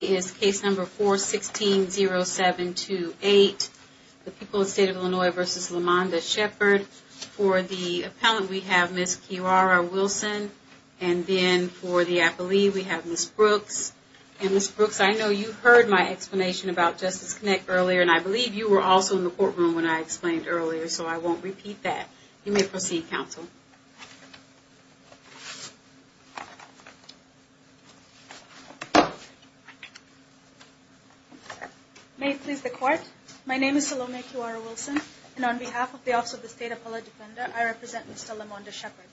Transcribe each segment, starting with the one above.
is case number 4160728, the people of the state of Illinois v. LaMonda Shepard. For the appellant we have Ms. Quirara-Wilson and then for the appellee we have Ms. Brooks. And Ms. Brooks I know you heard my explanation about Justice Connect earlier and I believe you were also in the courtroom when I explained earlier so I won't repeat that. You may proceed Ms. Quirara-Wilson. May it please the court, my name is Salome Quirara-Wilson and on behalf of the Office of the State Appellate Defender I represent Ms. LaMonda Shepard.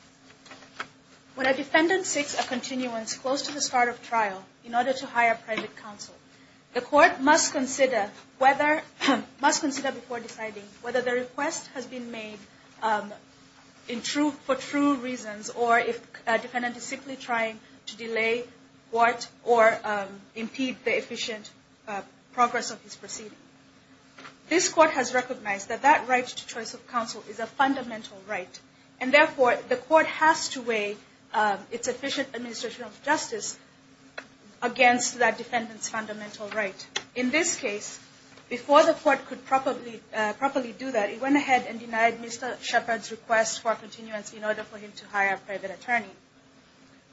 When a defendant seeks a continuance close to the start of trial in order to hire a private counsel, the court must consider whether, must consider before deciding whether the request has been made for true reasons or if a defendant is simply trying to delay court or impede the efficient progress of his proceeding. This court has recognized that that right to choice of counsel is a fundamental right and therefore the court has to weigh its efficient administration of justice against that defendant's fundamental right. In this case, before the court could properly do that, it went ahead and denied Mr. Shepard's request for a continuance in order for him to hire a private attorney.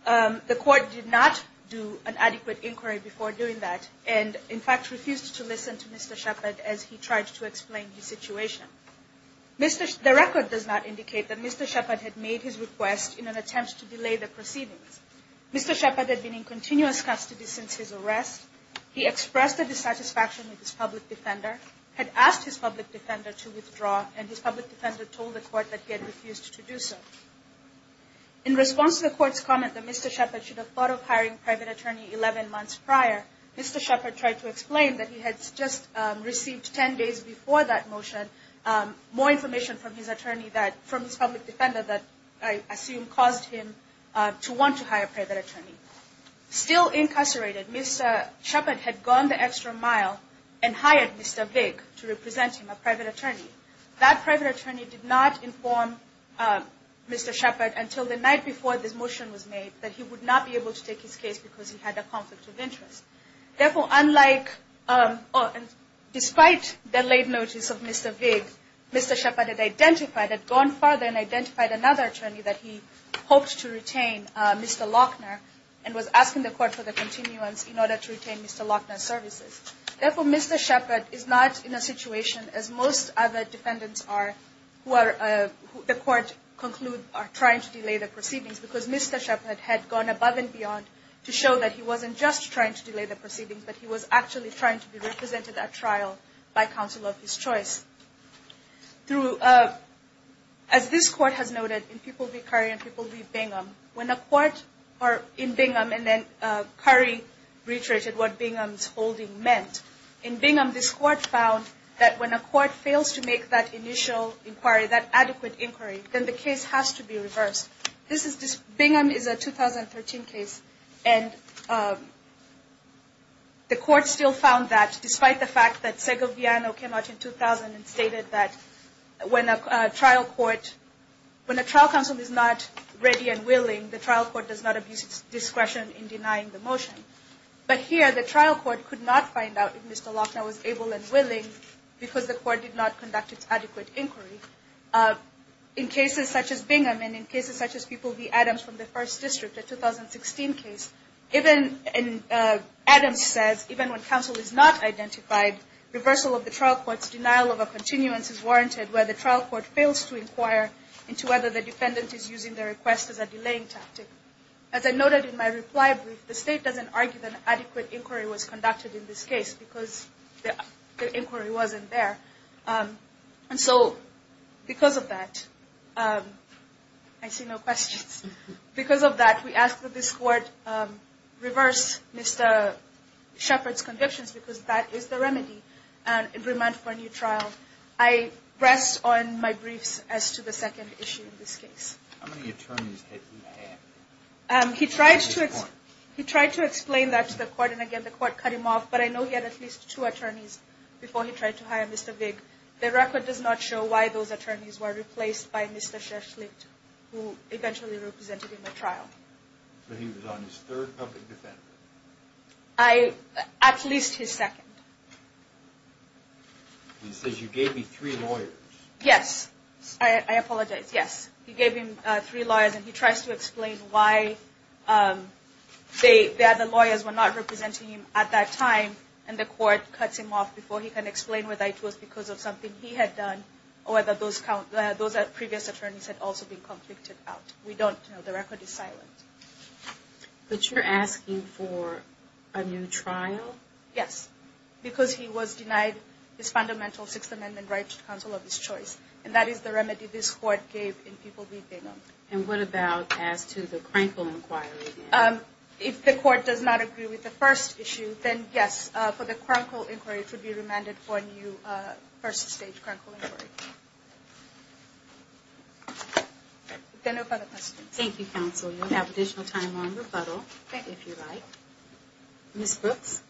The court did not do an adequate inquiry before doing that and in fact refused to listen to Mr. Shepard as he tried to explain his situation. The record does not indicate that Mr. Shepard had made his request in an attempt to delay the proceedings. Mr. Shepard had been in continuous custody since his arrest. He expressed a dissatisfaction with his public defender to withdraw and his public defender told the court that he had refused to do so. In response to the court's comment that Mr. Shepard should have thought of hiring a private attorney 11 months prior, Mr. Shepard tried to explain that he had just received 10 days before that motion more information from his public defender that I assume caused him to want to hire a private attorney. Still incarcerated, Mr. Shepard had gone the extra mile and hired Mr. Shepard as a private attorney. That private attorney did not inform Mr. Shepard until the night before this motion was made that he would not be able to take his case because he had a conflict of interest. Therefore, despite the late notice of Mr. Vig, Mr. Shepard had gone farther and identified another attorney that he hoped to retain, Mr. Lochner, and was asking the court for the continuance in order to retain Mr. Lochner's services. Therefore, Mr. Shepard is not in a situation as most other defendants are who the court concludes are trying to delay the proceedings because Mr. Shepard had gone above and beyond to show that he wasn't just trying to delay the proceedings, but he was actually trying to be represented at trial by counsel of his choice. As this court has noted in People v. Curry and People v. Bingham, when a court in Bingham and then Curry reiterated what Bingham's holding meant, in Bingham this court found that when a court fails to make that initial inquiry, that adequate inquiry, then the case has to be reversed. Bingham is a 2013 case and the court still found that despite the fact that Segoviano came out in 2000 and stated that when a trial counsel is not ready and willing, the trial court does not abuse its discretion in denying the motion. But here, the trial court could not find out if Mr. Lochner was able and willing because the court did not conduct its adequate inquiry. In cases such as Bingham and in cases such as People v. Adams from the First District, a 2016 case, Adams says even when counsel is not identified, reversal of the trial court's denial of a continuance is warranted where the trial court fails to inquire into whether the defendant is using the request as a delaying tactic. As I noted in my reply brief, the state doesn't argue that an adequate inquiry was conducted in this case because the inquiry wasn't there. And so, because of that, I see no questions. Because of that, we ask that this court reverse Mr. Shepard's convictions because that is the remedy and remand for a new trial. I rest on my briefs as to the second issue in this case. How many attorneys did he have? He tried to explain that to the court and again the court cut him off, but I know he had at least two attorneys before he tried to hire Mr. Vig. The record does not show why those attorneys were replaced by Mr. Shashlicht, who eventually represented him at trial. So he was on his third public defendant? At least his second. He says you gave me three lawyers. Yes, I apologize. Yes, he gave him three lawyers and he tries to explain why the other lawyers were not representing him at that time and the court cuts him off before he can explain whether it was because of something he had done or whether those previous attorneys had also been convicted out. We don't know. The record is silent. But you're asking for a new trial? Yes, because he was denied his fundamental right to counsel of his choice and that is the remedy this court gave in people beating him. And what about as to the Krankle inquiry? If the court does not agree with the first issue, then yes, for the Krankle inquiry it should be remanded for a new first stage Krankle inquiry. Thank you, counsel. You'll have additional time on rebuttal if you like. Ms. Brooks?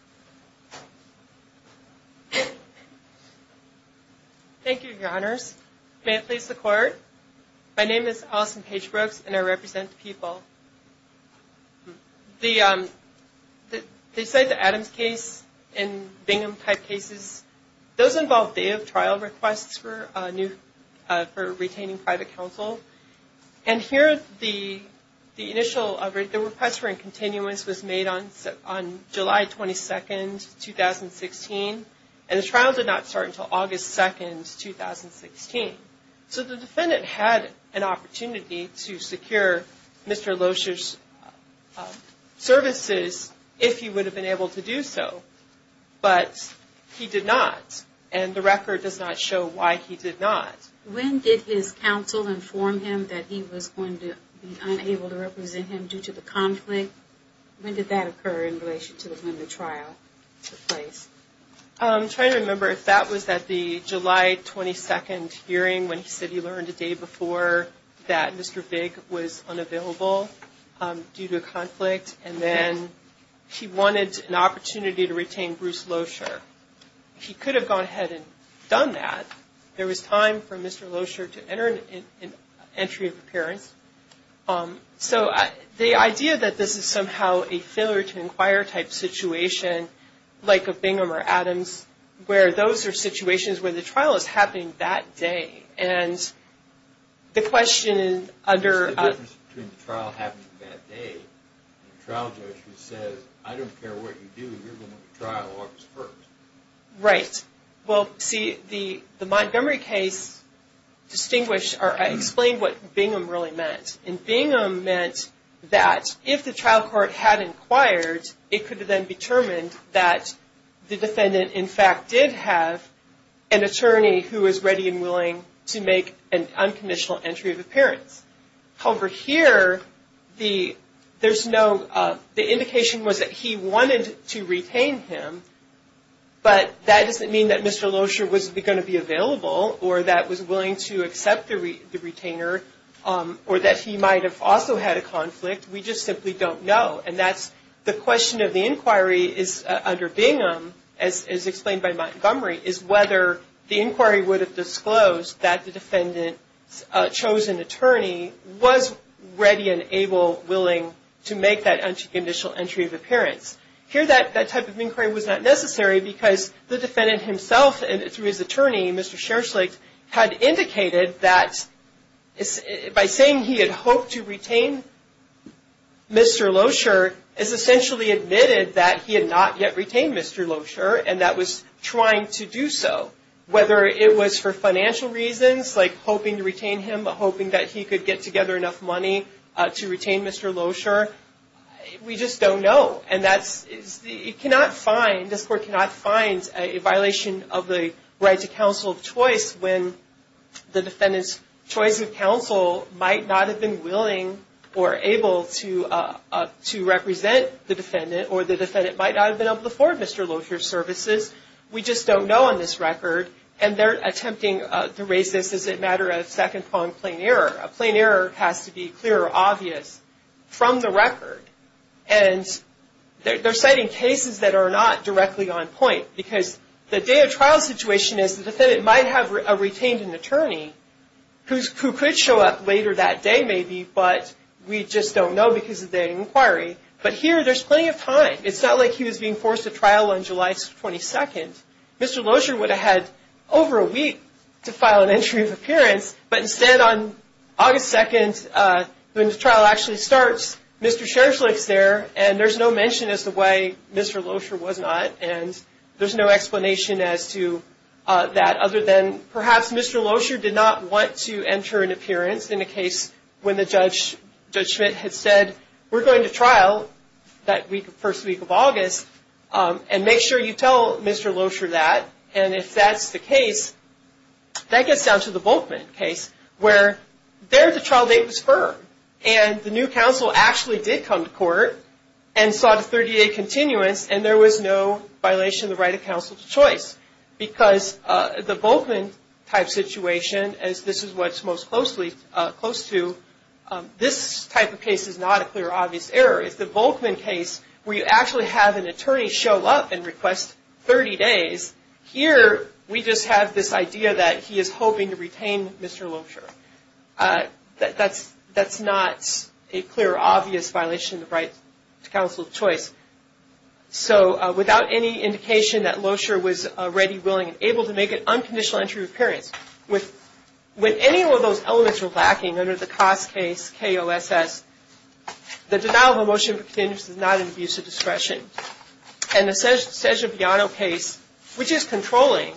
Thank you, your honors. May it please the court. My name is Allison Paige Brooks and I represent the people. They cite the Adams case and Bingham type cases. Those involve day of trial requests for retaining private counsel. And here the initial request for incontinence was made on July 22nd, 2016. And the trial did not start until August 2nd, 2016. So the defendant had an opportunity to secure Mr. Loescher's services if he would have been able to do so. But he did not. And the record does not show why he did not. When did his counsel inform him that he was going to be unable to represent him due to the conflict? When did that occur in relation to when the trial took place? I'm trying to remember if that was at the July 22nd hearing when he said he learned the day before that Mr. Bigg was unavailable due to a conflict. And then he wanted an opportunity to retain Bruce Loescher. He could have gone ahead and done that. There was time for Mr. Loescher to enter an entry of appearance. So the idea that this is somehow a failure to inquire type situation like of Bingham or Adams where those are situations where the trial is happening that day. And the question under... There's a difference between the trial happening that day and the trial judge who says I don't care what you do, you're going to the trial August 1st. Right. Well, see, the Montgomery case distinguished or explained what Bingham really meant. And Bingham meant that if the trial court had inquired, it could have been determined that the defendant in fact did have an attorney who was ready and willing to make an unconditional entry of appearance. However, here, there's no... The indication was that he wanted to retain him, but that doesn't mean that Mr. Loescher was going to be available or that was willing to accept the retainer or that he might have also had a conflict. We just simply don't know. And that's the question of the inquiry is under Bingham, as explained by Montgomery, is whether the inquiry would have disclosed that the defendant's chosen attorney was ready and able, willing to make that unconditional entry of appearance. Here, that type of inquiry was not necessary because the defendant himself and through his attorney, Mr. Scherchlicht, had indicated that by saying he had hoped to retain Mr. Loescher is essentially admitted that he had not yet retained Mr. Loescher and that was trying to do so. Whether it was for financial reasons, like hoping to retain him, hoping that he could get together enough money to retain Mr. Loescher, we just don't know. And that's... You cannot find, this court cannot find a violation of the right to counsel of choice when the defendant's choice of counsel might not have been willing or able to represent the defendant or the defendant might not have been able to afford Mr. Loescher's services. We just don't know on this record and they're attempting to raise this as a matter of second-pronged plain error. A plain error has to be clear or obvious from the record and they're citing cases that are not directly on point because the day of trial situation is the defendant might have retained an attorney who could show up later that day, maybe, but we just don't know because of the inquiry. But here, there's plenty of time. It's not like he was being forced to trial on July 22nd. Mr. Loescher would have had over a week to file an entry of appearance, but instead on August 2nd, when the trial actually starts, Mr. Scherzle is there and there's no mention as to why Mr. Loescher was not and there's no explanation as to that other than perhaps Mr. Loescher did not want to enter an appearance in a case when the judge, Judge Schmidt, had said, we're going to trial that week, first week of August and make sure you tell Mr. Loescher that and if that's the case, that gets down to the Volkman case where there the trial date was firm and the new counsel actually did come to court and sought a 30-day continuance and there was no violation of the right of counsel's choice because the Volkman type situation, as this is what's close to, this type of case is not a clear, obvious error. It's the Volkman case where you actually have an attorney show up and request 30 days. Here, we just have this idea that he is hoping to retain Mr. Loescher. That's not a clear, obvious violation of the right to counsel's choice. So, without any indication that Loescher was ready, willing, and able to make an unconditional entry of appearance, with any of those elements were lacking under the Koss case, K-O-S-S, the denial of a motion for continuance is not an abuse of discretion. In the Sessions-Biano case, which is controlling,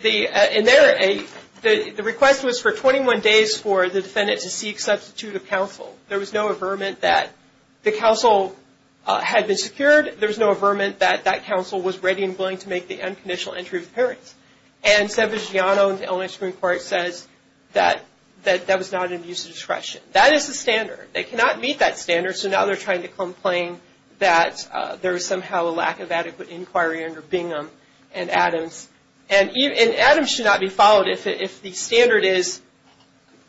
the request was for 21 days for the defendant to seek substitute of counsel. There was no averment that the counsel had been secured. There was no averment that that counsel was ready and willing to make the unconditional entry of appearance. And Sessions-Biano in the Illinois Supreme Court says that that was not an abuse of discretion. That is the standard. They cannot meet that standard, so now they're trying to complain that there is somehow a lack of adequate inquiry under Bingham and Adams. And Adams should not be followed if the standard is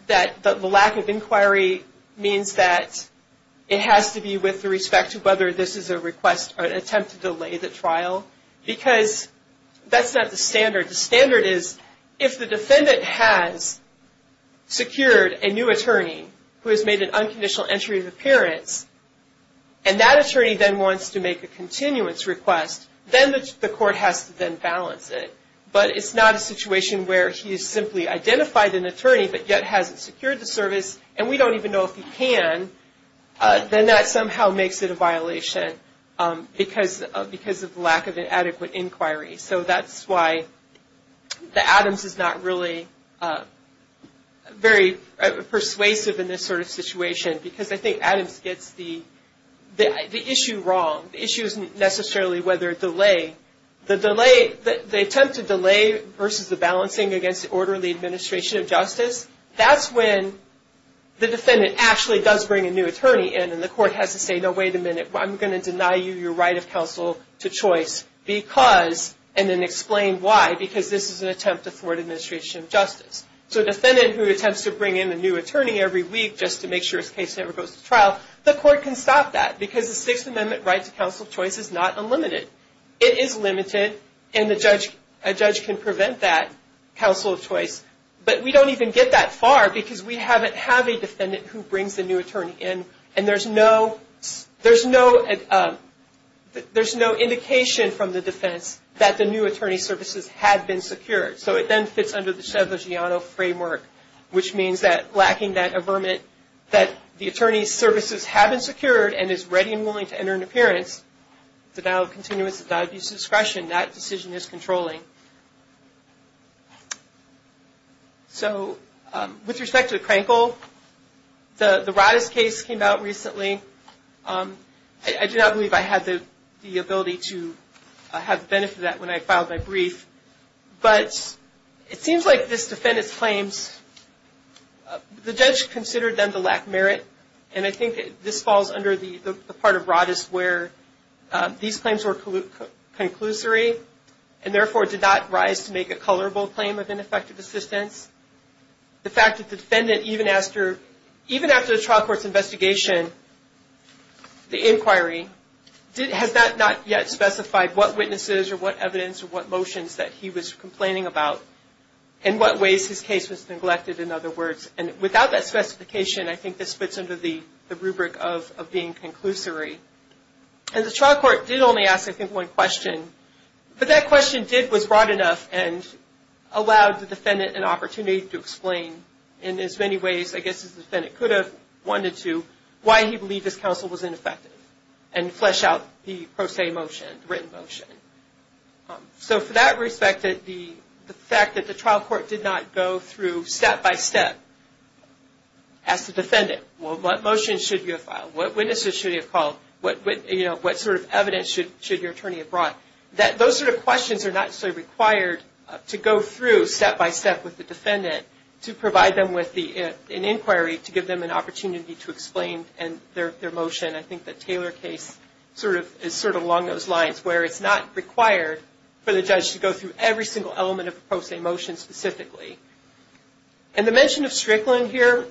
that the lack of inquiry means that it has to be with respect to whether this is a request or an attempt to delay the trial, because that's not the standard. The standard is, if the defendant has secured a new attorney who has made an unconditional entry of appearance, and that attorney then wants to make a continuance request, then the court has to then balance it. But it's not a situation where he's simply identified an attorney, but yet hasn't secured the service, and we don't even know if he can, then that somehow makes it a violation because of the lack of an adequate inquiry. So that's why the Adams is not really very persuasive in this sort of situation, because I think Adams gets the issue wrong. The issue isn't necessarily whether delay. The attempt to delay versus the balancing against the orderly administration of justice, that's when the defendant actually does bring a new attorney in, and the court has to say, no, wait a minute. I'm going to deny you your right of counsel to choice because, and then explain why, because this is an attempt to thwart administration of justice. So a defendant who attempts to bring in a new attorney every week just to make sure his case never goes to trial, the court can stop that, because the Sixth Amendment right to counsel of choice is not unlimited. It is limited, and a judge can prevent that counsel of choice. But we don't even get that far, because we haven't had a defendant who brings a new attorney in, and there's no indication from the defense that the new attorney services had been secured. So it then fits under the Chevlogiano framework, which means that, lacking that averment, that the denial of continuance, the denial of use of discretion, that decision is controlling. So with respect to the Krankel, the Raddus case came out recently. I do not believe I had the ability to have the benefit of that when I filed my brief, but it seems like this defendant's claims, the judge considered them to lack merit, and I think this falls under the part of Raddus where these claims were conclusory, and therefore did not rise to make a colorable claim of ineffective assistance. The fact that the defendant, even after the trial court's investigation, the inquiry, has not yet specified what witnesses or what evidence or what motions that he was complaining about, and what ways his case was neglected, in other words. And without that did only ask, I think, one question, but that question was broad enough and allowed the defendant an opportunity to explain in as many ways, I guess, as the defendant could have wanted to, why he believed this counsel was ineffective, and flesh out the pro se motion, written motion. So for that respect, the fact that the trial court did not go through step-by-step as the defendant, what motions should you have filed, what witnesses should you have called, what sort of evidence should your attorney have brought, those sort of questions are not necessarily required to go through step-by-step with the defendant to provide them with an inquiry to give them an opportunity to explain their motion. I think the Taylor case is sort of along those lines where it's not required for the judge to go through every single element of a pro se motion specifically. In the mention of Strickland here,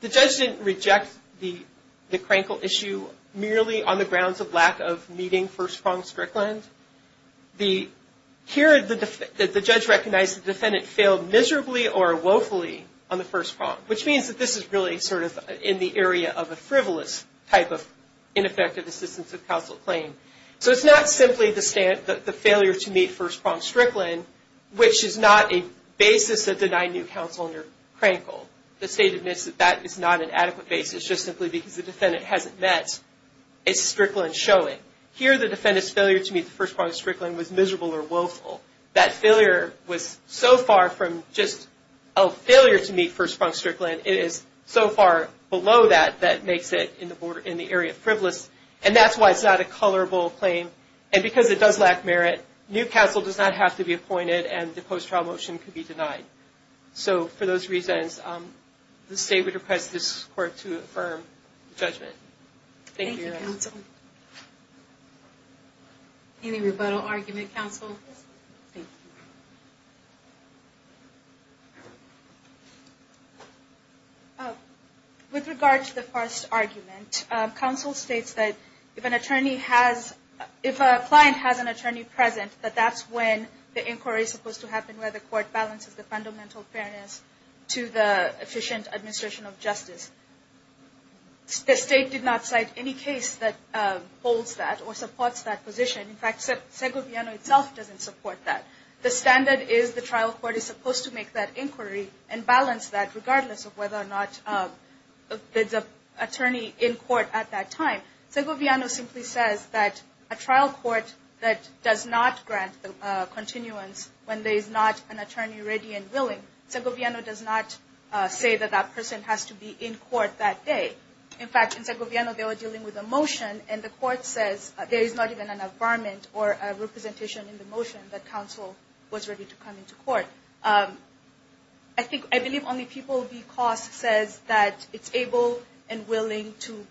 the judge didn't reject the Krankel issue merely on the grounds of lack of meeting first pronged Strickland. Here the judge recognized the defendant failed miserably or woefully on the first prong, which means that this is really sort of in the area of a frivolous type of ineffective assistance of counsel claim. So it's not simply the failure to meet first pronged Strickland, which is not a basis that denied new counsel under Krankel. The state admits that that is not an adequate basis just simply because the defendant hasn't met a Strickland showing. Here the defendant's failure to meet the first pronged Strickland was miserable or woeful. That failure was so far from just a failure to meet first pronged Strickland, it is so far below that that makes it in the area of frivolous, and that's why it's not a tolerable claim. And because it does lack merit, new counsel does not have to be appointed and the post-trial motion could be denied. So for those reasons, the state would request this court to affirm judgment. Thank you. Any rebuttal argument, counsel? Thank you. With regard to the first argument, counsel states that if an attorney has, if a client has an attorney present, that that's when the inquiry is supposed to happen where the court balances the fundamental fairness to the efficient administration of justice. The state did not support that. The standard is the trial court is supposed to make that inquiry and balance that regardless of whether or not there's an attorney in court at that time. Segoviano simply says that a trial court that does not grant the continuance when there is not an attorney ready and willing, Segoviano does not say that that person has to be in court that day. In fact, in Segoviano they are dealing with a motion and the court says there is not even an environment or a representation in the motion that counsel was ready to come into court. I think, I believe only people because says that it's able and willing to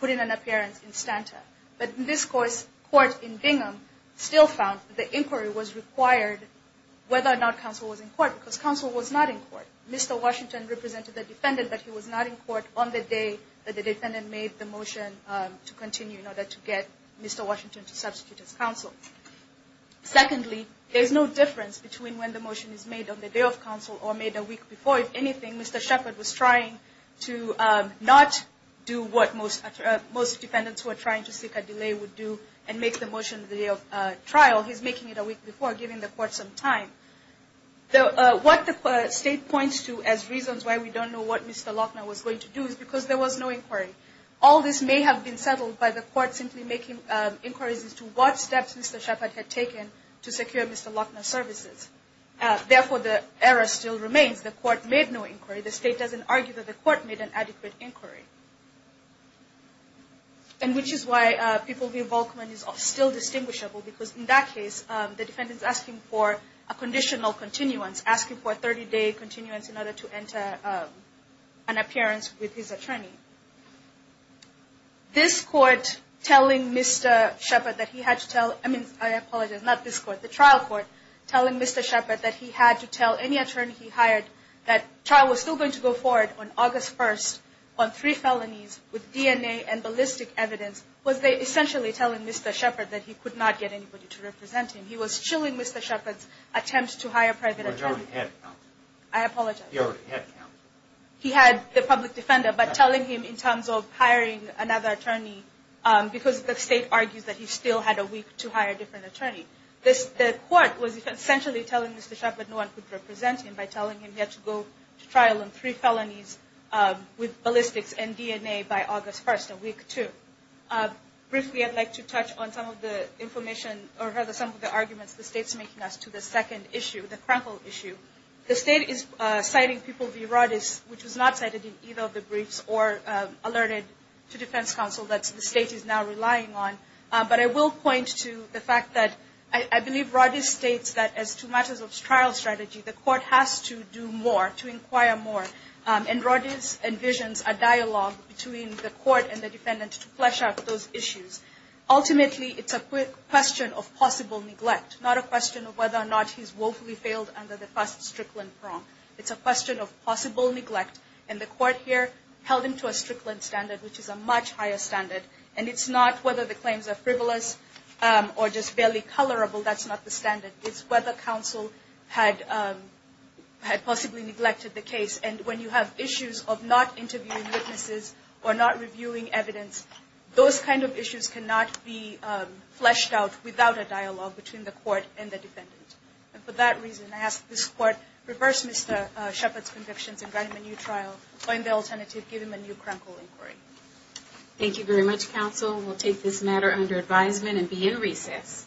put in an appearance in stanta. But in this course, court in Bingham still found the inquiry was required whether or not counsel was in court because counsel was not in court. Mr. Washington represented the defendant but he was not in court on the day that the defendant made the motion to continue in order to get Mr. Washington to substitute as counsel. Secondly, there's no difference between when the motion is made on the day of counsel or made a week before. If anything, Mr. Shepard was trying to not do what most most defendants were trying to seek a delay would do and make the motion the day of trial. He's making it a week before giving the court some time. What the state points to as reasons why we don't know what Mr. All this may have been settled by the court simply making inquiries as to what steps Mr. Shepard had taken to secure Mr. Lochner's services. Therefore, the error still remains. The court made no inquiry. The state doesn't argue that the court made an adequate inquiry. And which is why people view Volkman is still distinguishable because in that case, the defendant is asking for a conditional continuance, asking for a 30-day continuance in order to enter an appearance with his attorney. This court telling Mr. Shepard that he had to tell, I mean, I apologize, not this court, the trial court telling Mr. Shepard that he had to tell any attorney he hired that trial was still going to go forward on August 1st on three felonies with DNA and ballistic evidence was they essentially telling Mr. Shepard that he could not get anybody to represent him. He was chilling Mr. Shepard's attempt to hire a private attorney. I apologize. He had the public defender but telling him in terms of hiring another attorney because the state argues that he still had a week to hire a different attorney. This court was essentially telling Mr. Shepard no one could represent him by telling him he had to go to trial on three felonies with ballistics and DNA by August 1st, a week two. Briefly, I'd like to touch on some of the information or rather some of the arguments the state's making as to the second issue, the Krenkel issue. The state is citing people via Rodis, which was not cited in either of the briefs or alerted to defense counsel that the state is now relying on. But I will point to the fact that I believe Rodis states that as to matters of trial strategy, the court has to do more, to inquire more. And Rodis envisions a dialogue between the court and the defendant to flesh out those issues. Ultimately, it's a question of possible neglect, not a question of whether or not he's woefully failed under the first Strickland prompt. It's a question of possible neglect. And the court here held him to a Strickland standard, which is a much higher standard. And it's not whether the claims are frivolous or just barely colorable. That's not the standard. It's whether counsel had possibly neglected the case. And when you have issues of not interviewing witnesses or not reviewing evidence, those kind of issues cannot be fleshed out without a dialogue between the court and the defendant. And for that reason, I ask this court reverse Mr. Shepard's convictions and grant him a new trial, find the alternative, give him a new Krenkel inquiry. Thank you very much, counsel. We'll take this matter under advisement and be in recess.